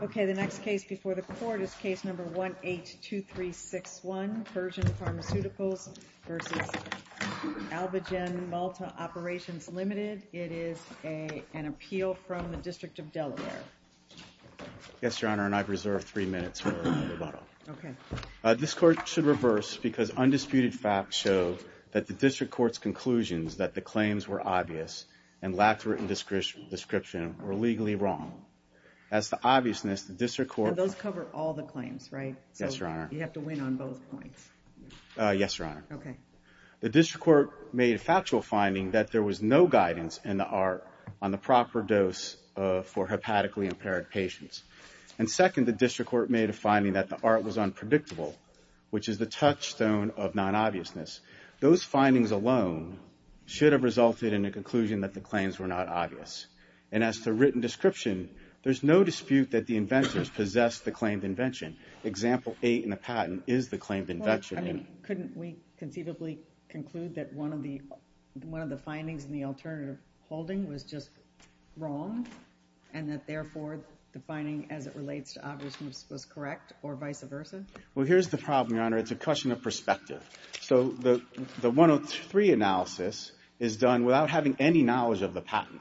Okay, the next case before the court is case number 182361, Persian Pharmaceuticals v. Alvogen Malta Operations Ltd. It is an appeal from the District of Delaware. Yes, Your Honor, and I've reserved three minutes for rebuttal. Okay. This court should reverse because undisputed facts show that the District Court's conclusions that the claims were obvious and lacked written description were legally wrong. As to the obviousness, the District Court... Those cover all the claims, right? Yes, Your Honor. So you have to win on both points. Yes, Your Honor. Okay. The District Court made a factual finding that there was no guidance in the ART on the proper dose for hepatically impaired patients, and second, the District Court made a finding that the ART was unpredictable, which is the touchstone of non-obviousness. Those findings alone should have resulted in a conclusion that the claims were not obvious, and as to written description, there's no dispute that the inventors possessed the claimed invention. Example 8 in the patent is the claimed invention. Well, I mean, couldn't we conceivably conclude that one of the findings in the alternative holding was just wrong, and that, therefore, the finding as it relates to obviousness was correct, or vice versa? Well, here's the problem, Your Honor. It's a question of perspective. So the 103 analysis is done without having any knowledge of the patent.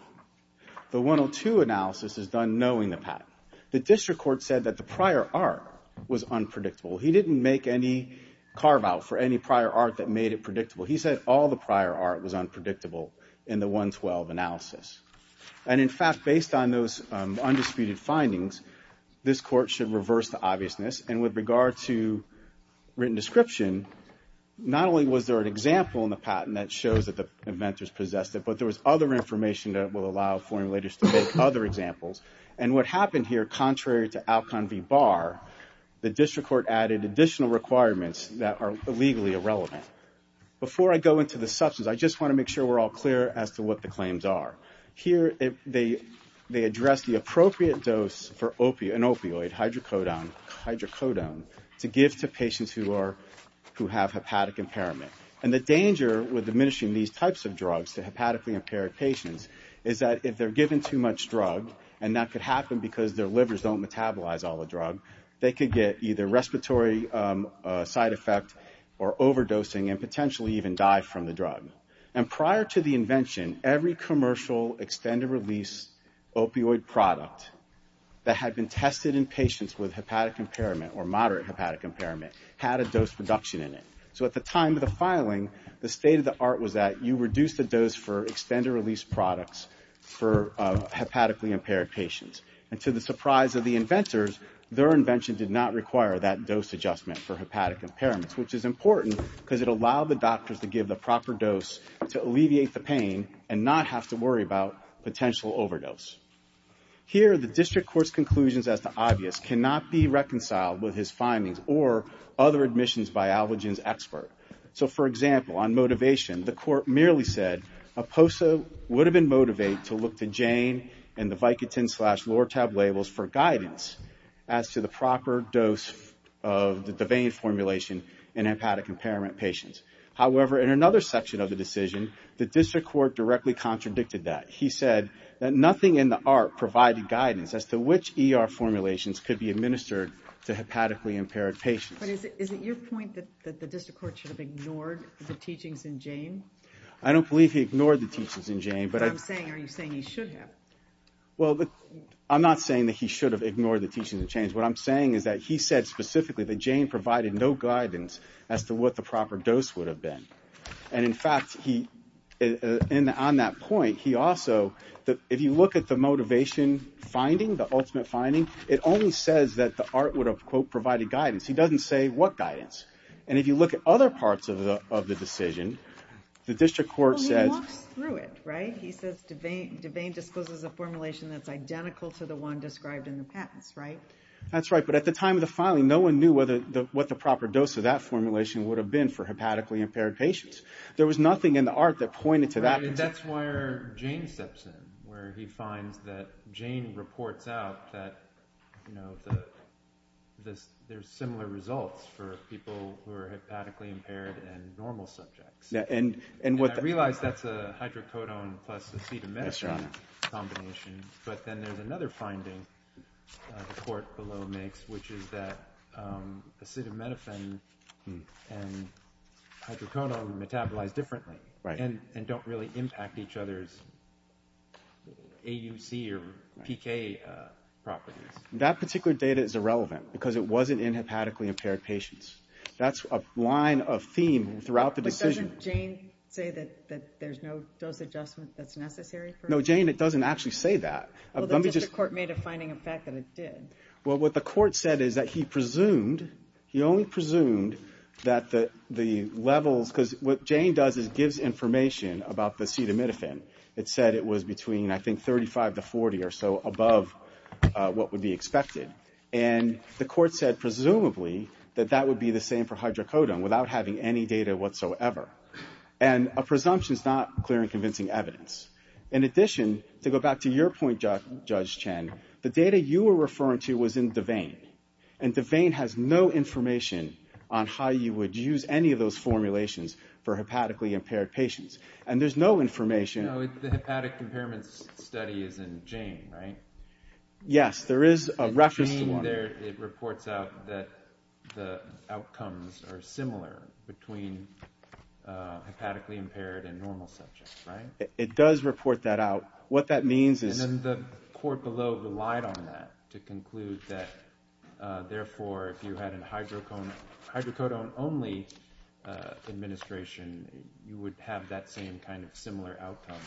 The 102 analysis is done knowing the patent. The District Court said that the prior ART was unpredictable. He didn't make any carve-out for any prior ART that made it predictable. He said all the prior ART was unpredictable in the 112 analysis. And in fact, based on those undisputed findings, this Court should reverse the obviousness, and with regard to written description, not only was there an example in the patent that shows that the inventors possessed it, but there was other information that will allow formulators to make other examples, and what happened here, contrary to Alcon v. Barr, the District Court added additional requirements that are legally irrelevant. Before I go into the substance, I just want to make sure we're all clear as to what the Here, they address the appropriate dose for an opioid, hydrocodone, to give to patients who have hepatic impairment. And the danger with diminishing these types of drugs to hepatically impaired patients is that if they're given too much drug, and that could happen because their livers don't metabolize all the drug, they could get either respiratory side effect or overdosing and potentially even die from the drug. And prior to the invention, every commercial extended release opioid product that had been tested in patients with hepatic impairment or moderate hepatic impairment had a dose reduction in it. So at the time of the filing, the state of the art was that you reduce the dose for extended release products for hepatically impaired patients. And to the surprise of the inventors, their invention did not require that dose adjustment for hepatic impairments, which is important because it allowed the doctors to give the proper dose to alleviate the pain and not have to worry about potential overdose. Here the district court's conclusions as to obvious cannot be reconciled with his findings or other admissions by Alvagen's expert. So for example, on motivation, the court merely said a POSA would have been motivate to look to Jane and the Vicodin-slash-Lortab labels for guidance as to the proper dose of the Devane formulation in hepatic impairment patients. However, in another section of the decision, the district court directly contradicted that. He said that nothing in the art provided guidance as to which ER formulations could be administered to hepatically impaired patients. But is it your point that the district court should have ignored the teachings in Jane? I don't believe he ignored the teachings in Jane, but I'm saying... But I'm saying, are you saying he should have? Well, I'm not saying that he should have ignored the teachings in Jane. What I'm saying is that he said specifically that Jane provided no guidance as to what the proper dose would have been. And in fact, on that point, he also, if you look at the motivation finding, the ultimate finding, it only says that the art would have, quote, provided guidance. He doesn't say what guidance. And if you look at other parts of the decision, the district court says... Well, he walks through it, right? He says Devane discloses a formulation that's identical to the one described in the patents, right? That's right. But at the time of the filing, no one knew what the proper dose of that formulation would have been for hepatically impaired patients. There was nothing in the art that pointed to that. That's where Jane steps in, where he finds that Jane reports out that there's similar results for people who are hepatically impaired and normal subjects. And I realize that's a hydrocodone plus acetaminophen combination, but then there's another finding that the court below makes, which is that acetaminophen and hydrocodone metabolize differently and don't really impact each other's AUC or PK properties. That particular data is irrelevant, because it wasn't in hepatically impaired patients. That's a line of theme throughout the decision. But doesn't Jane say that there's no dose adjustment that's necessary for... No, Jane, it doesn't actually say that. Well, the district court made a finding, in fact, that it did. Well, what the court said is that he presumed, he only presumed that the levels, because what Jane does is gives information about the acetaminophen. It said it was between, I think, 35 to 40 or so above what would be expected. And the court said, presumably, that that would be the same for hydrocodone without having any data whatsoever. And a presumption is not clear and convincing evidence. In addition, to go back to your point, Judge Chen, the data you were referring to was in Devane, and Devane has no information on how you would use any of those formulations for hepatically impaired patients. And there's no information... No, the hepatic impairments study is in Jane, right? Yes. There is a reference to one. In Jane, it reports out that the outcomes are similar between hepatically impaired and normal subjects, right? It does report that out. What that means is... And then the court below relied on that to conclude that, therefore, if you had a hydrocodone only administration, you would have that same kind of similar outcome,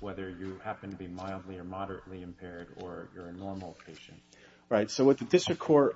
whether you happen to be mildly or moderately impaired or you're a normal patient, right? So what the district court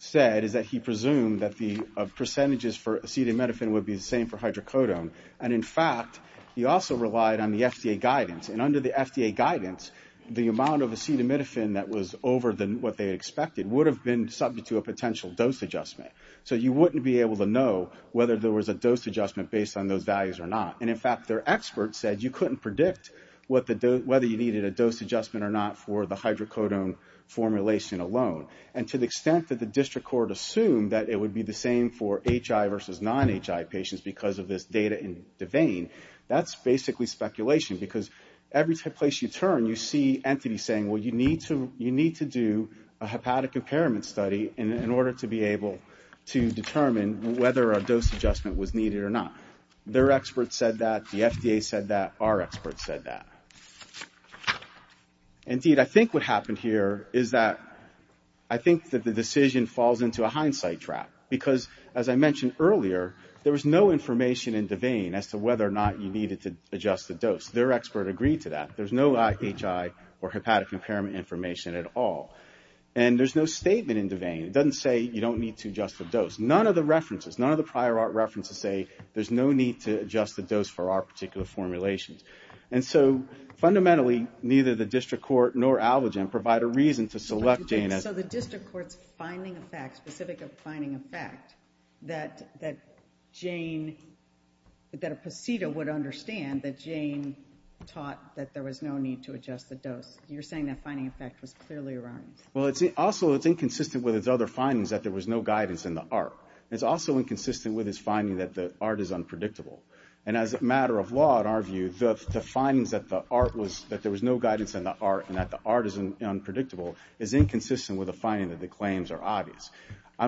said is that he presumed that the percentages for acetaminophen would be the same for hydrocodone. And in fact, he also relied on the FDA guidance. And under the FDA guidance, the amount of acetaminophen that was over what they expected would have been subject to a potential dose adjustment. So you wouldn't be able to know whether there was a dose adjustment based on those values or not. And in fact, their experts said you couldn't predict whether you needed a dose adjustment or not for the hydrocodone formulation alone. And to the extent that the district court assumed that it would be the same for HI versus non-HI patients because of this data in the vein, that's basically speculation. Because every place you turn, you see entities saying, well, you need to do a hepatic impairment study in order to be able to determine whether a dose adjustment was needed or not. Their experts said that, the FDA said that, our experts said that. Indeed, I think what happened here is that I think that the decision falls into a hindsight trap. Because as I mentioned earlier, there was no information in the vein as to whether or not you needed to adjust the dose. Their expert agreed to that. There's no HI or hepatic impairment information at all. And there's no statement in the vein. It doesn't say you don't need to adjust the dose. None of the references, none of the prior art references say there's no need to adjust the dose for our particular formulations. And so fundamentally, neither the district court nor AllerGen provide a reason to select Jane as... that Jane, that a procedure would understand that Jane taught that there was no need to adjust the dose. You're saying that finding, in fact, was clearly erroneous. Well, it's also, it's inconsistent with its other findings that there was no guidance in the art. It's also inconsistent with its finding that the art is unpredictable. And as a matter of law, in our view, the findings that the art was, that there was no guidance in the art and that the art is unpredictable is inconsistent with the finding that the claims are obvious.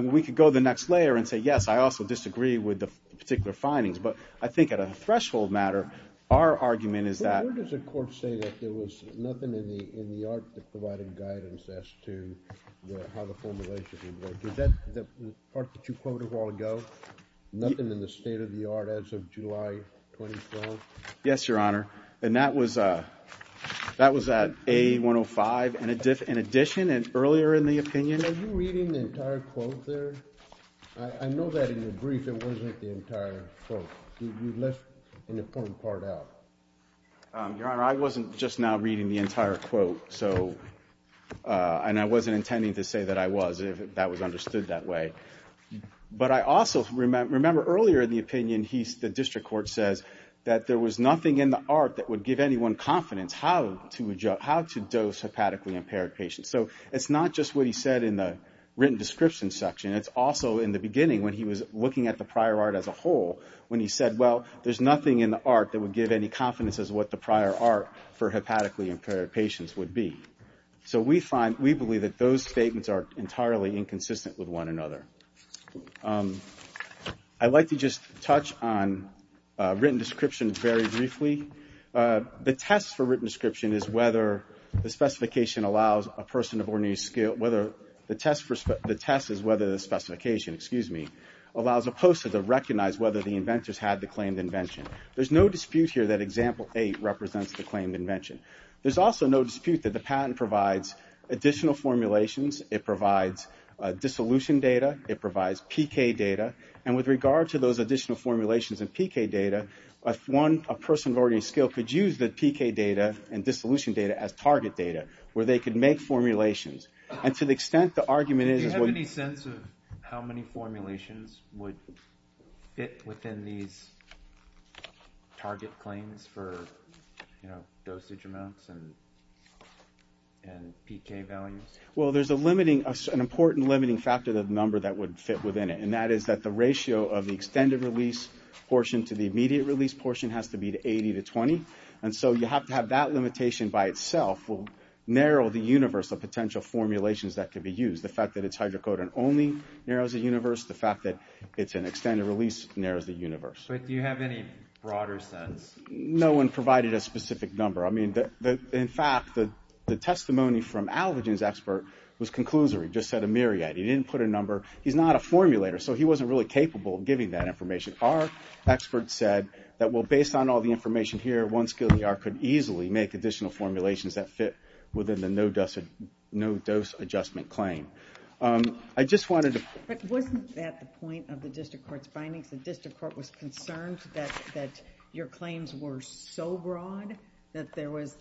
We could go to the next layer and say, yes, I also disagree with the particular findings. But I think at a threshold matter, our argument is that... Where does the court say that there was nothing in the art that provided guidance as to how the formulation would work? Is that the part that you quoted a while ago, nothing in the state of the art as of July 2012? Yes, Your Honor. And that was at A-105 in addition and earlier in the opinion. And are you reading the entire quote there? I know that in your brief it wasn't the entire quote. You left an important part out. Your Honor, I wasn't just now reading the entire quote. So, and I wasn't intending to say that I was, if that was understood that way. But I also remember earlier in the opinion, the district court says that there was nothing in the art that would give anyone confidence how to dose hepatically impaired patients. So it's not just what he said in the written description section. It's also in the beginning when he was looking at the prior art as a whole, when he said, well, there's nothing in the art that would give any confidence as what the prior art for hepatically impaired patients would be. So we find, we believe that those statements are entirely inconsistent with one another. I'd like to just touch on written description very briefly. The test for written description is whether the specification allows a person of ordinary skill, whether the test is whether the specification, excuse me, allows a poster to recognize whether the inventors had the claimed invention. There's no dispute here that example eight represents the claimed invention. There's also no dispute that the patent provides additional formulations. It provides dissolution data. It provides PK data. And with regard to those additional formulations and PK data, if one, a person of ordinary skill could use the PK data and dissolution data as target data where they could make formulations. And to the extent the argument is that what... Do you have any sense of how many formulations would fit within these target claims for dosage amounts and PK values? Well, there's a limiting, an important limiting factor that number that would fit within it. And that is that the ratio of the extended release portion to the immediate release portion has to be 80 to 20. And so you have to have that limitation by itself will narrow the universe of potential formulations that could be used. The fact that it's hydrocodone only narrows the universe. The fact that it's an extended release narrows the universe. But do you have any broader sense? No one provided a specific number. I mean, in fact, the testimony from Alvagen's expert was conclusory. Just said a myriad. He didn't put a number. He's not a formulator. So he wasn't really capable of giving that information. Our expert said that, well, based on all the information here, one skilled ER could easily make additional formulations that fit within the no-dose adjustment claim. I just wanted to... But wasn't that the point of the district court's findings? The district court was concerned that your claims were so broad that there was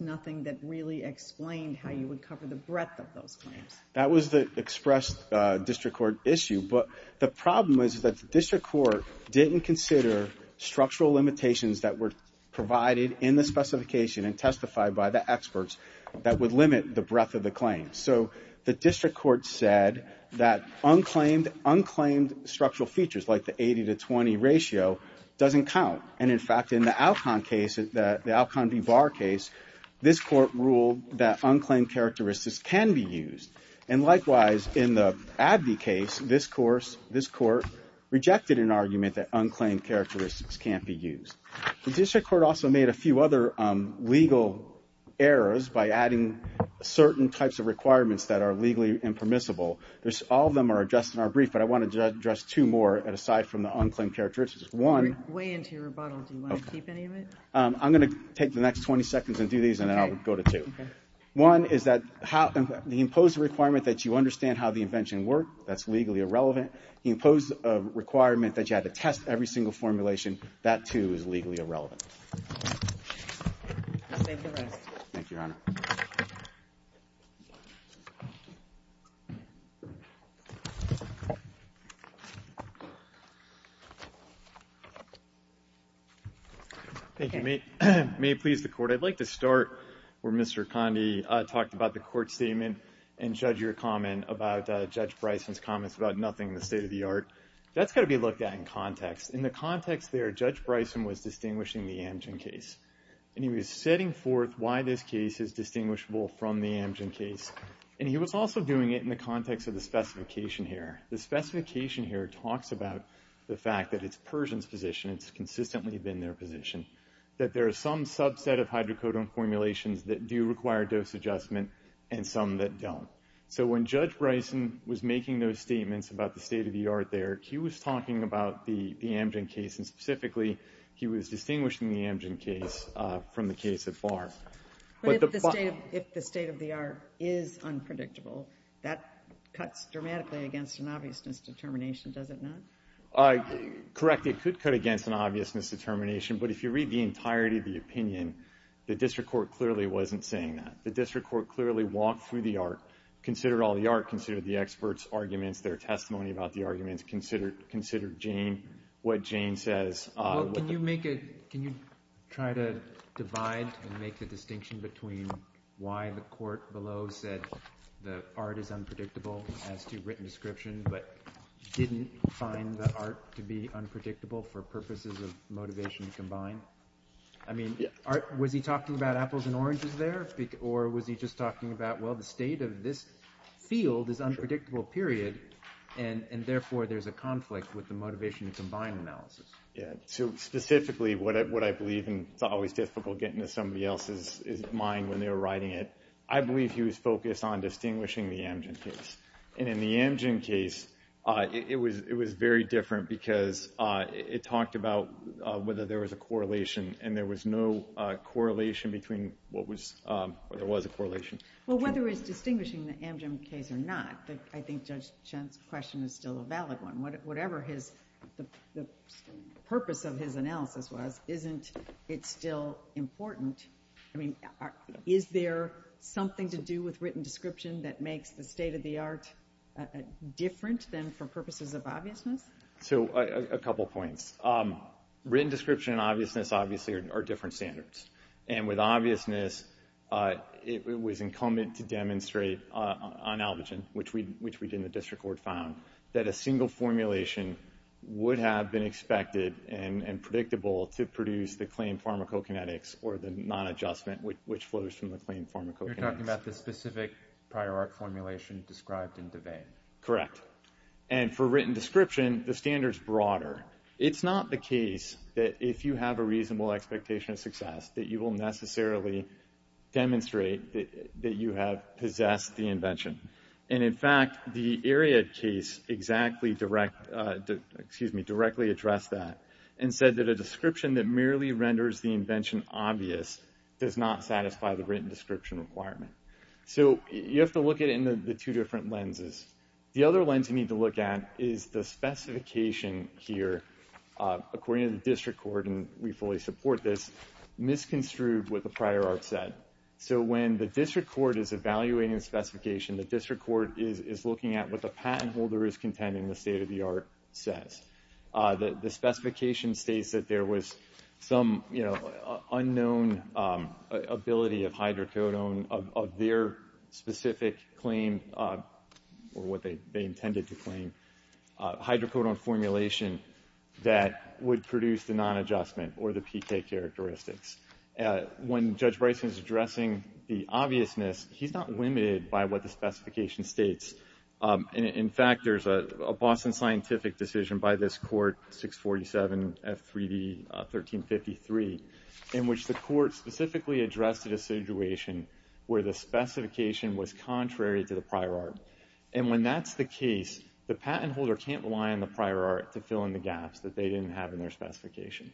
nothing that really explained how you would cover the breadth of those claims. That was the expressed district court issue. But the problem is that the district court didn't consider structural limitations that were provided in the specification and testified by the experts that would limit the breadth of the claims. So the district court said that unclaimed structural features, like the 80 to 20 ratio, doesn't count. And in fact, in the Alcon case, the Alcon v. Barr case, this court ruled that unclaimed characteristics can be used. And likewise, in the Abney case, this court rejected an argument that unclaimed characteristics can't be used. The district court also made a few other legal errors by adding certain types of requirements that are legally impermissible. All of them are addressed in our brief, but I wanted to address two more, aside from the unclaimed characteristics. One... We're way into your rebuttal. Do you want to keep any of it? I'm going to take the next 20 seconds and do these, and then I'll go to two. Okay. One is that the imposed requirement that you understand how the invention worked, that's legally irrelevant. The imposed requirement that you had to test every single formulation, that, too, is legally irrelevant. I'll take the rest. Thank you, Your Honor. Thank you. May it please the Court. I'd like to start where Mr. Condi talked about the court statement, and Judge, your comment about Judge Bryson's comments about nothing in the state of the art. That's got to be looked at in context. In the context there, Judge Bryson was distinguishing the Amgen case, and he was setting forth why this case is distinguishable from the Amgen case, and he was also doing it in the context of the specification here. The specification here talks about the fact that it's Persians' position. It's consistently been their position. That there is some subset of hydrocodone formulations that do require dose adjustment, and some that don't. So, when Judge Bryson was making those statements about the state of the art there, he was talking about the Amgen case, and specifically, he was distinguishing the Amgen case from the case at Barr. But if the state of the art is unpredictable, that cuts dramatically against an obviousness determination, does it not? Correct. It could cut against an obviousness determination, but if you read the entirety of the opinion, the district court clearly wasn't saying that. The district court clearly walked through the art, considered all the art, considered the experts' arguments, their testimony about the arguments, considered Jane, what Jane says. Well, can you make a – can you try to divide and make the distinction between why the court below said the art is unpredictable as to written description, but didn't find the art unpredictable for purposes of motivation to combine? I mean, was he talking about apples and oranges there, or was he just talking about, well, the state of this field is unpredictable, period, and therefore, there's a conflict with the motivation to combine analysis? Yeah. So, specifically, what I believe, and it's always difficult getting to somebody else's mind when they were writing it, I believe he was focused on distinguishing the Amgen case. And in the Amgen case, it was very different, because it talked about whether there was a correlation, and there was no correlation between what was – or there was a correlation. Well, whether it's distinguishing the Amgen case or not, I think Judge Chen's question is still a valid one. Whatever his – the purpose of his analysis was, isn't it still important – I mean, is there something to do with written description that makes the state-of-the-art different than for purposes of obviousness? So, a couple points. Written description and obviousness, obviously, are different standards. And with obviousness, it was incumbent to demonstrate on Albogen, which we did in the district court, found that a single formulation would have been expected and predictable to produce the claimed pharmacokinetics or the non-adjustment, which flows from the claimed pharmacokinetics. You're talking about the specific prior art formulation described in DeVane. Correct. And for written description, the standard's broader. It's not the case that if you have a reasonable expectation of success, that you will necessarily demonstrate that you have possessed the invention. And in fact, the Ariad case exactly direct – excuse me, directly addressed that and said that a description that merely renders the invention obvious does not satisfy the written description requirement. So you have to look at it in the two different lenses. The other lens you need to look at is the specification here, according to the district court, and we fully support this, misconstrued with the prior art set. So when the district court is evaluating the specification, the district court is looking at what the patent holder is contending the state-of-the-art says. The specification states that there was some, you know, unknown ability of hydrocodone of their specific claim, or what they intended to claim, hydrocodone formulation that would produce the non-adjustment or the PK characteristics. When Judge Bryson is addressing the obviousness, he's not limited by what the specification states. In fact, there's a Boston Scientific decision by this court, 647 F3D 1353, in which the court specifically addressed a situation where the specification was contrary to the prior art. And when that's the case, the patent holder can't rely on the prior art to fill in the gaps that they didn't have in their specification.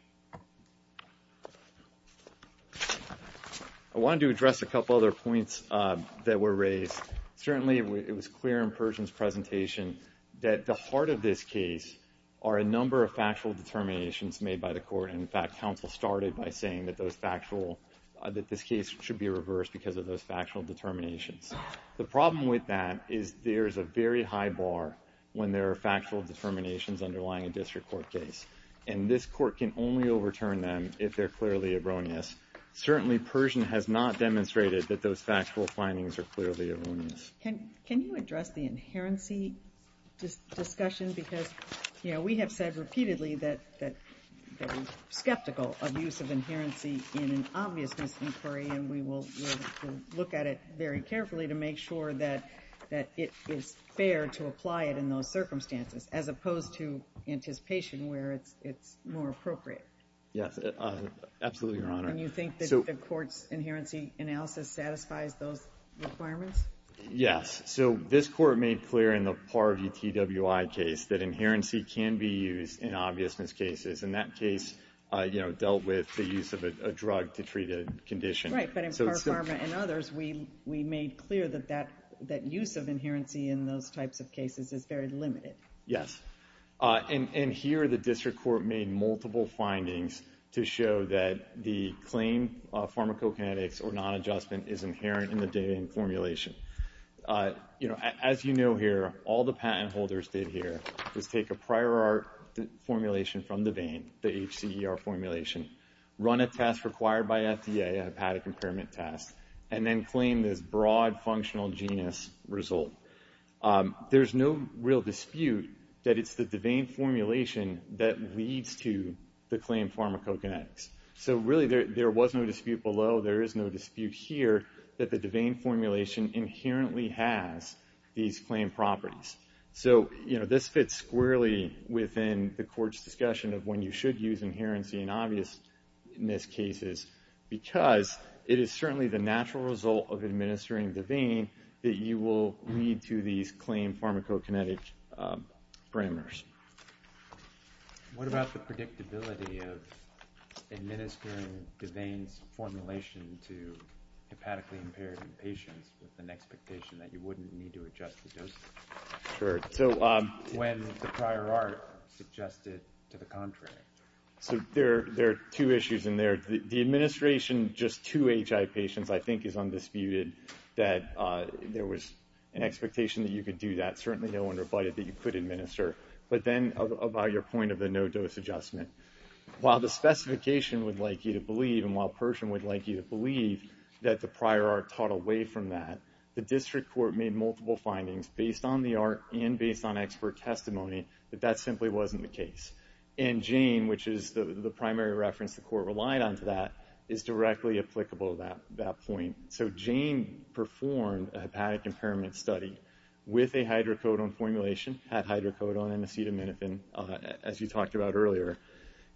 I wanted to address a couple other points that were raised. Certainly, it was clear in Pershing's presentation that the heart of this case are a number of factual determinations made by the court. And in fact, counsel started by saying that those factual, that this case should be reversed because of those factual determinations. The problem with that is there is a very high bar when there are factual determinations underlying a district court case. And this court can only overturn them if they're clearly erroneous. Certainly, Pershing has not demonstrated that those factual findings are clearly erroneous. Can you address the inherency discussion? Because we have said repeatedly that we're skeptical of use of inherency in an obviousness inquiry, and we will look at it very carefully to make sure that it is fair to apply it in those circumstances, as opposed to anticipation where it's more appropriate. Yes, absolutely, Your Honor. And you think that the court's inherency analysis satisfies those requirements? Yes. So this court made clear in the Par VTWI case that inherency can be used in obviousness cases, and that case dealt with the use of a drug to treat a condition. Right, but in Par Pharma and others, we made clear that use of inherency in those types of cases is very limited. Yes. And here, the district court made multiple findings to show that the claim of pharmacokinetics or non-adjustment is inherent in the Dane formulation. As you know here, all the patent holders did here was take a prior art formulation from the Dane, the HCER formulation, run a test required by FDA, a hepatic impairment test, and then claim this broad functional genus result. There's no real dispute that it's the Dane formulation that leads to the claim pharmacokinetics. So really, there was no dispute below. There is no dispute here that the Dane formulation inherently has these claim properties. So this fits squarely within the court's discussion of when you should use inherency in obviousness cases, because it is certainly the natural result of administering the Dane that you will lead to these claim pharmacokinetic parameters. What about the predictability of administering the Dane's formulation to hepatically impaired patients with an expectation that you wouldn't need to adjust the dosage when the prior art suggested to the contrary? So there are two issues in there. The administration, just two HI patients, I think is undisputed that there was an expectation that you could do that. Certainly no one rebutted that you could administer. But then about your point of the no-dose adjustment. While the specification would like you to believe, and while Pershing would like you to believe that the prior art taught away from that, the district court made multiple findings based on the art and based on expert testimony that that simply wasn't the case. And Jane, which is the primary reference the court relied on to that, is directly applicable to that point. So Jane performed a hepatic impairment study with a hydrocodone formulation, had hydrocodone and acetaminophen, as you talked about earlier.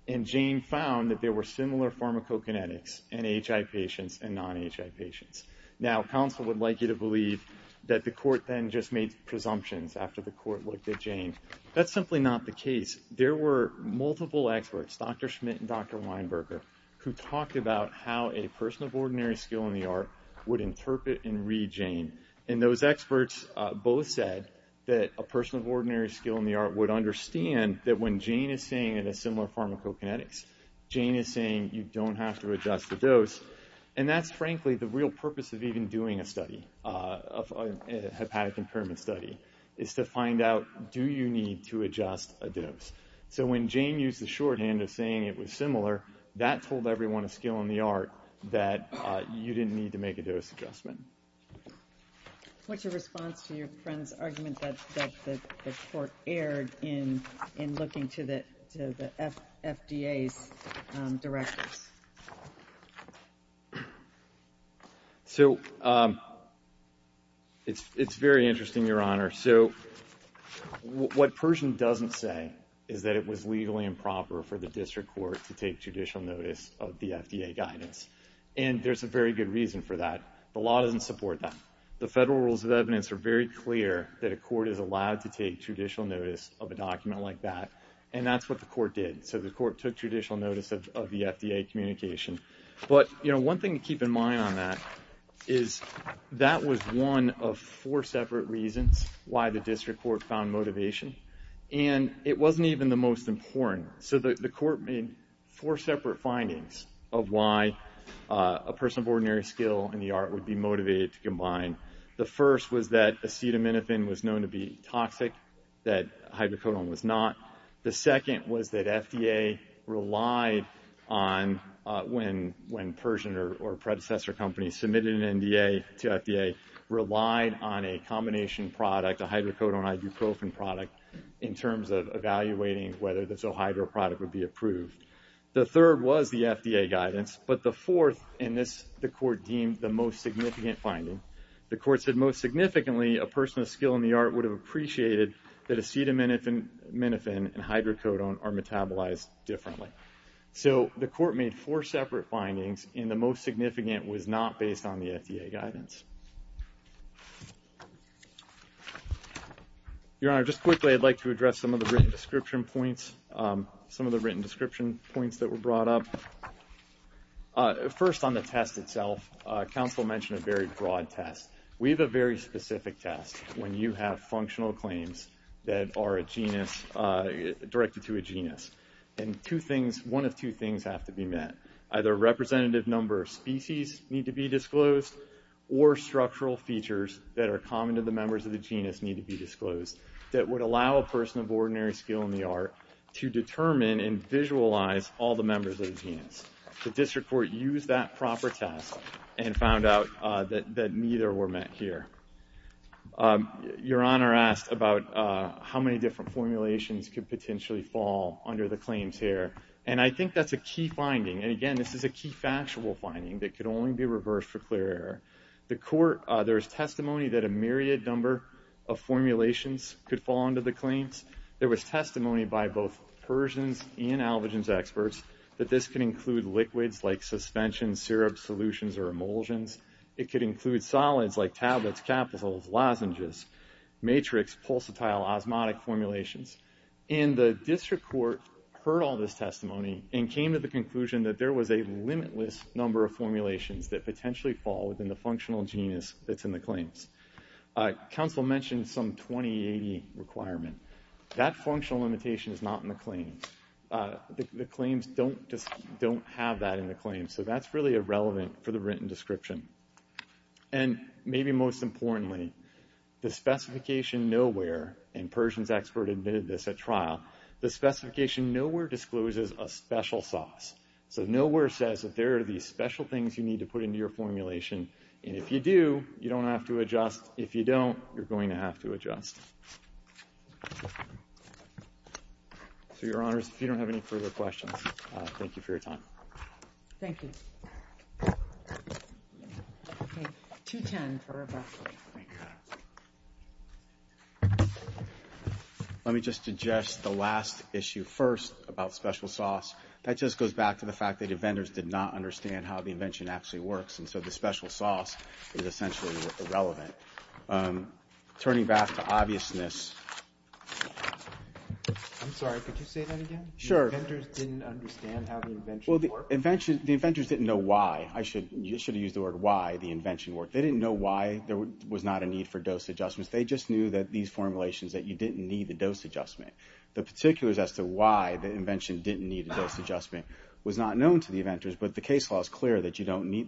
And Jane found that there were similar pharmacokinetics in HI patients and non-HI patients. Now counsel would like you to believe that the court then just made presumptions after the court looked at Jane. That's simply not the case. There were multiple experts, Dr. Schmidt and Dr. Weinberger, who talked about how a person of ordinary skill in the art would interpret and read Jane. And those experts both said that a person of ordinary skill in the art would understand that when Jane is saying in a similar pharmacokinetics, Jane is saying you don't have to adjust the dose. And that's frankly the real purpose of even doing a study, a hepatic impairment study, is to find out, do you need to adjust a dose? So when Jane used the shorthand of saying it was similar, that told everyone of skill in the art that you didn't need to make a dose adjustment. What's your response to your friend's argument that the court erred in looking to the FDA's directors? So it's very interesting, Your Honor. So what Pershing doesn't say is that it was legally improper for the district court to take judicial notice of the FDA guidance. And there's a very good reason for that. The law doesn't support that. The federal rules of evidence are very clear that a court is allowed to take judicial notice of a document like that. And that's what the court did. So the court took judicial notice of the FDA communication. But one thing to keep in mind on that is that was one of four separate reasons why the district court found motivation. And it wasn't even the most important. So the court made four separate findings of why a person of ordinary skill in the art would be motivated to combine. The first was that acetaminophen was known to be toxic, that hydrocodone was not. The second was that FDA relied on, when Pershing or a predecessor company submitted an NDA to FDA, relied on a combination product, a hydrocodone-ibuprofen product, in terms of evaluating whether the ZOHydro product would be approved. The third was the FDA guidance. But the fourth, and the court deemed the most significant finding, the court said most significantly a person of skill in the art would have appreciated that acetaminophen and hydrocodone are metabolized differently. So the court made four separate findings, and the most significant was not based on the FDA guidance. Your Honor, just quickly, I'd like to address some of the written description points, some of the written description points that were brought up. First on the test itself, counsel mentioned a very broad test. We have a very specific test when you have functional claims that are a genus, directed to a genus, and two things, one of two things have to be met. Either a representative number of species need to be disclosed, or structural features that are common to the members of the genus need to be disclosed that would allow a person of ordinary skill in the art to determine and visualize all the members of the genus. The district court used that proper test and found out that neither were met here. Your Honor asked about how many different formulations could potentially fall under the claims here, and I think that's a key finding, and again, this is a key factual finding that could only be reversed for clear error. The court, there was testimony that a myriad number of formulations could fall under the claims. There was testimony by both Persians and albogens experts that this could include liquids like suspensions, syrups, solutions, or emulsions. It could include solids like tablets, capitals, lozenges, matrix, pulsatile, osmotic formulations. And the district court heard all this testimony and came to the conclusion that there was a limitless number of formulations that potentially fall within the functional genus that's in the claims. Council mentioned some 2080 requirement. That functional limitation is not in the claims. The claims don't have that in the claims, so that's really irrelevant for the written description. And maybe most importantly, the specification nowhere, and Persians expert admitted this at trial, the specification nowhere discloses a special sauce. So nowhere says that there are these special things you need to put into your formulation, and if you do, you don't have to adjust. If you don't, you're going to have to adjust. So, Your Honors, if you don't have any further questions, thank you for your time. Thank you. Okay. 210 for Rebecca. Thank you. Let me just address the last issue first about special sauce. That just goes back to the fact that the vendors did not understand how the invention actually works, and so the special sauce is essentially irrelevant. Turning back to obviousness. I'm sorry, could you say that again? Sure. The vendors didn't understand how the invention worked? The inventors didn't know why. I should have used the word why the invention worked. They didn't know why there was not a need for dose adjustments. They just knew that these formulations, that you didn't need a dose adjustment. The particulars as to why the invention didn't need a dose adjustment was not known to the inventors. The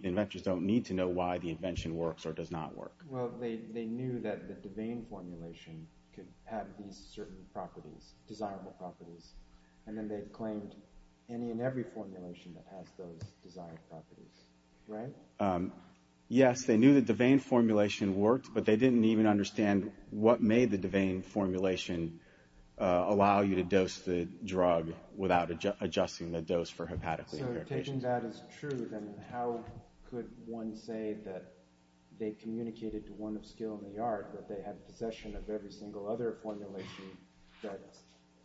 inventors don't need to know why the invention works or does not work. Well, they knew that the Devane formulation could have these certain properties, desirable properties, and then they claimed any and every formulation that has those desired properties, right? Yes. They knew that the Devane formulation worked, but they didn't even understand what made the Devane formulation allow you to dose the drug without adjusting the dose for hepatic liver patients. So, taking that as true, then how could one say that they communicated to one of Skill in the Art that they had possession of every single other formulation that's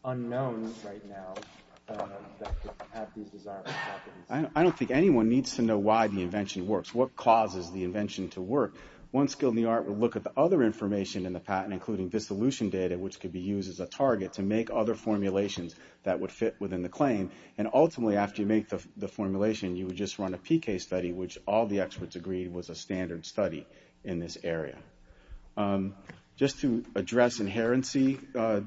unknown right now that could have these desirable properties? I don't think anyone needs to know why the invention works, what causes the invention to work. One Skill in the Art would look at the other information in the patent, including dissolution data, which could be used as a target to make other formulations that would fit within the formulation. You would just run a PK study, which all the experts agreed was a standard study in this area. Just to address inherency,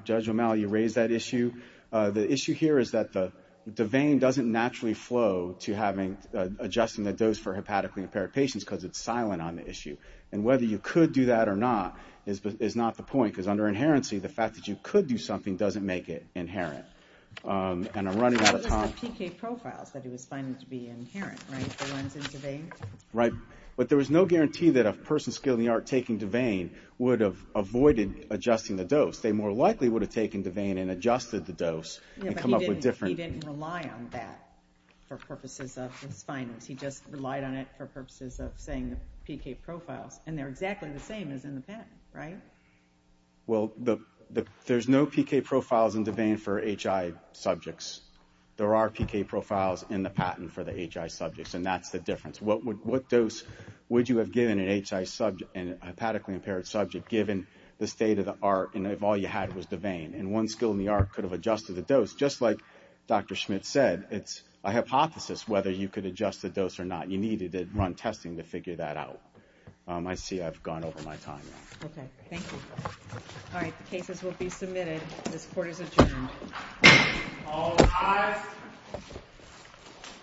Judge O'Malley, you raised that issue. The issue here is that the Devane doesn't naturally flow to adjusting the dose for hepatically impaired patients because it's silent on the issue. And whether you could do that or not is not the point, because under inherency, the fact that you could do something doesn't make it inherent. And I'm running out of time. But it's the PK profiles that he was finding to be inherent, right, the ones in Devane? Right. But there was no guarantee that a person Skill in the Art taking Devane would have avoided adjusting the dose. They more likely would have taken Devane and adjusted the dose and come up with different... He didn't rely on that for purposes of his findings. He just relied on it for purposes of saying the PK profiles. And they're exactly the same as in the patent, right? Well, there's no PK profiles in Devane for HI subjects. There are PK profiles in the patent for the HI subjects, and that's the difference. What dose would you have given an HI subject, a hepatically impaired subject, given the state of the art, and if all you had was Devane, and one Skill in the Art could have adjusted the dose. Just like Dr. Schmidt said, it's a hypothesis whether you could adjust the dose or not. You needed to run testing to figure that out. I see I've gone over my time now. Okay, thank you. All right, the cases will be submitted. This court is adjourned. All rise.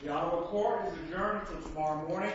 The Ottawa court is adjourned until tomorrow morning.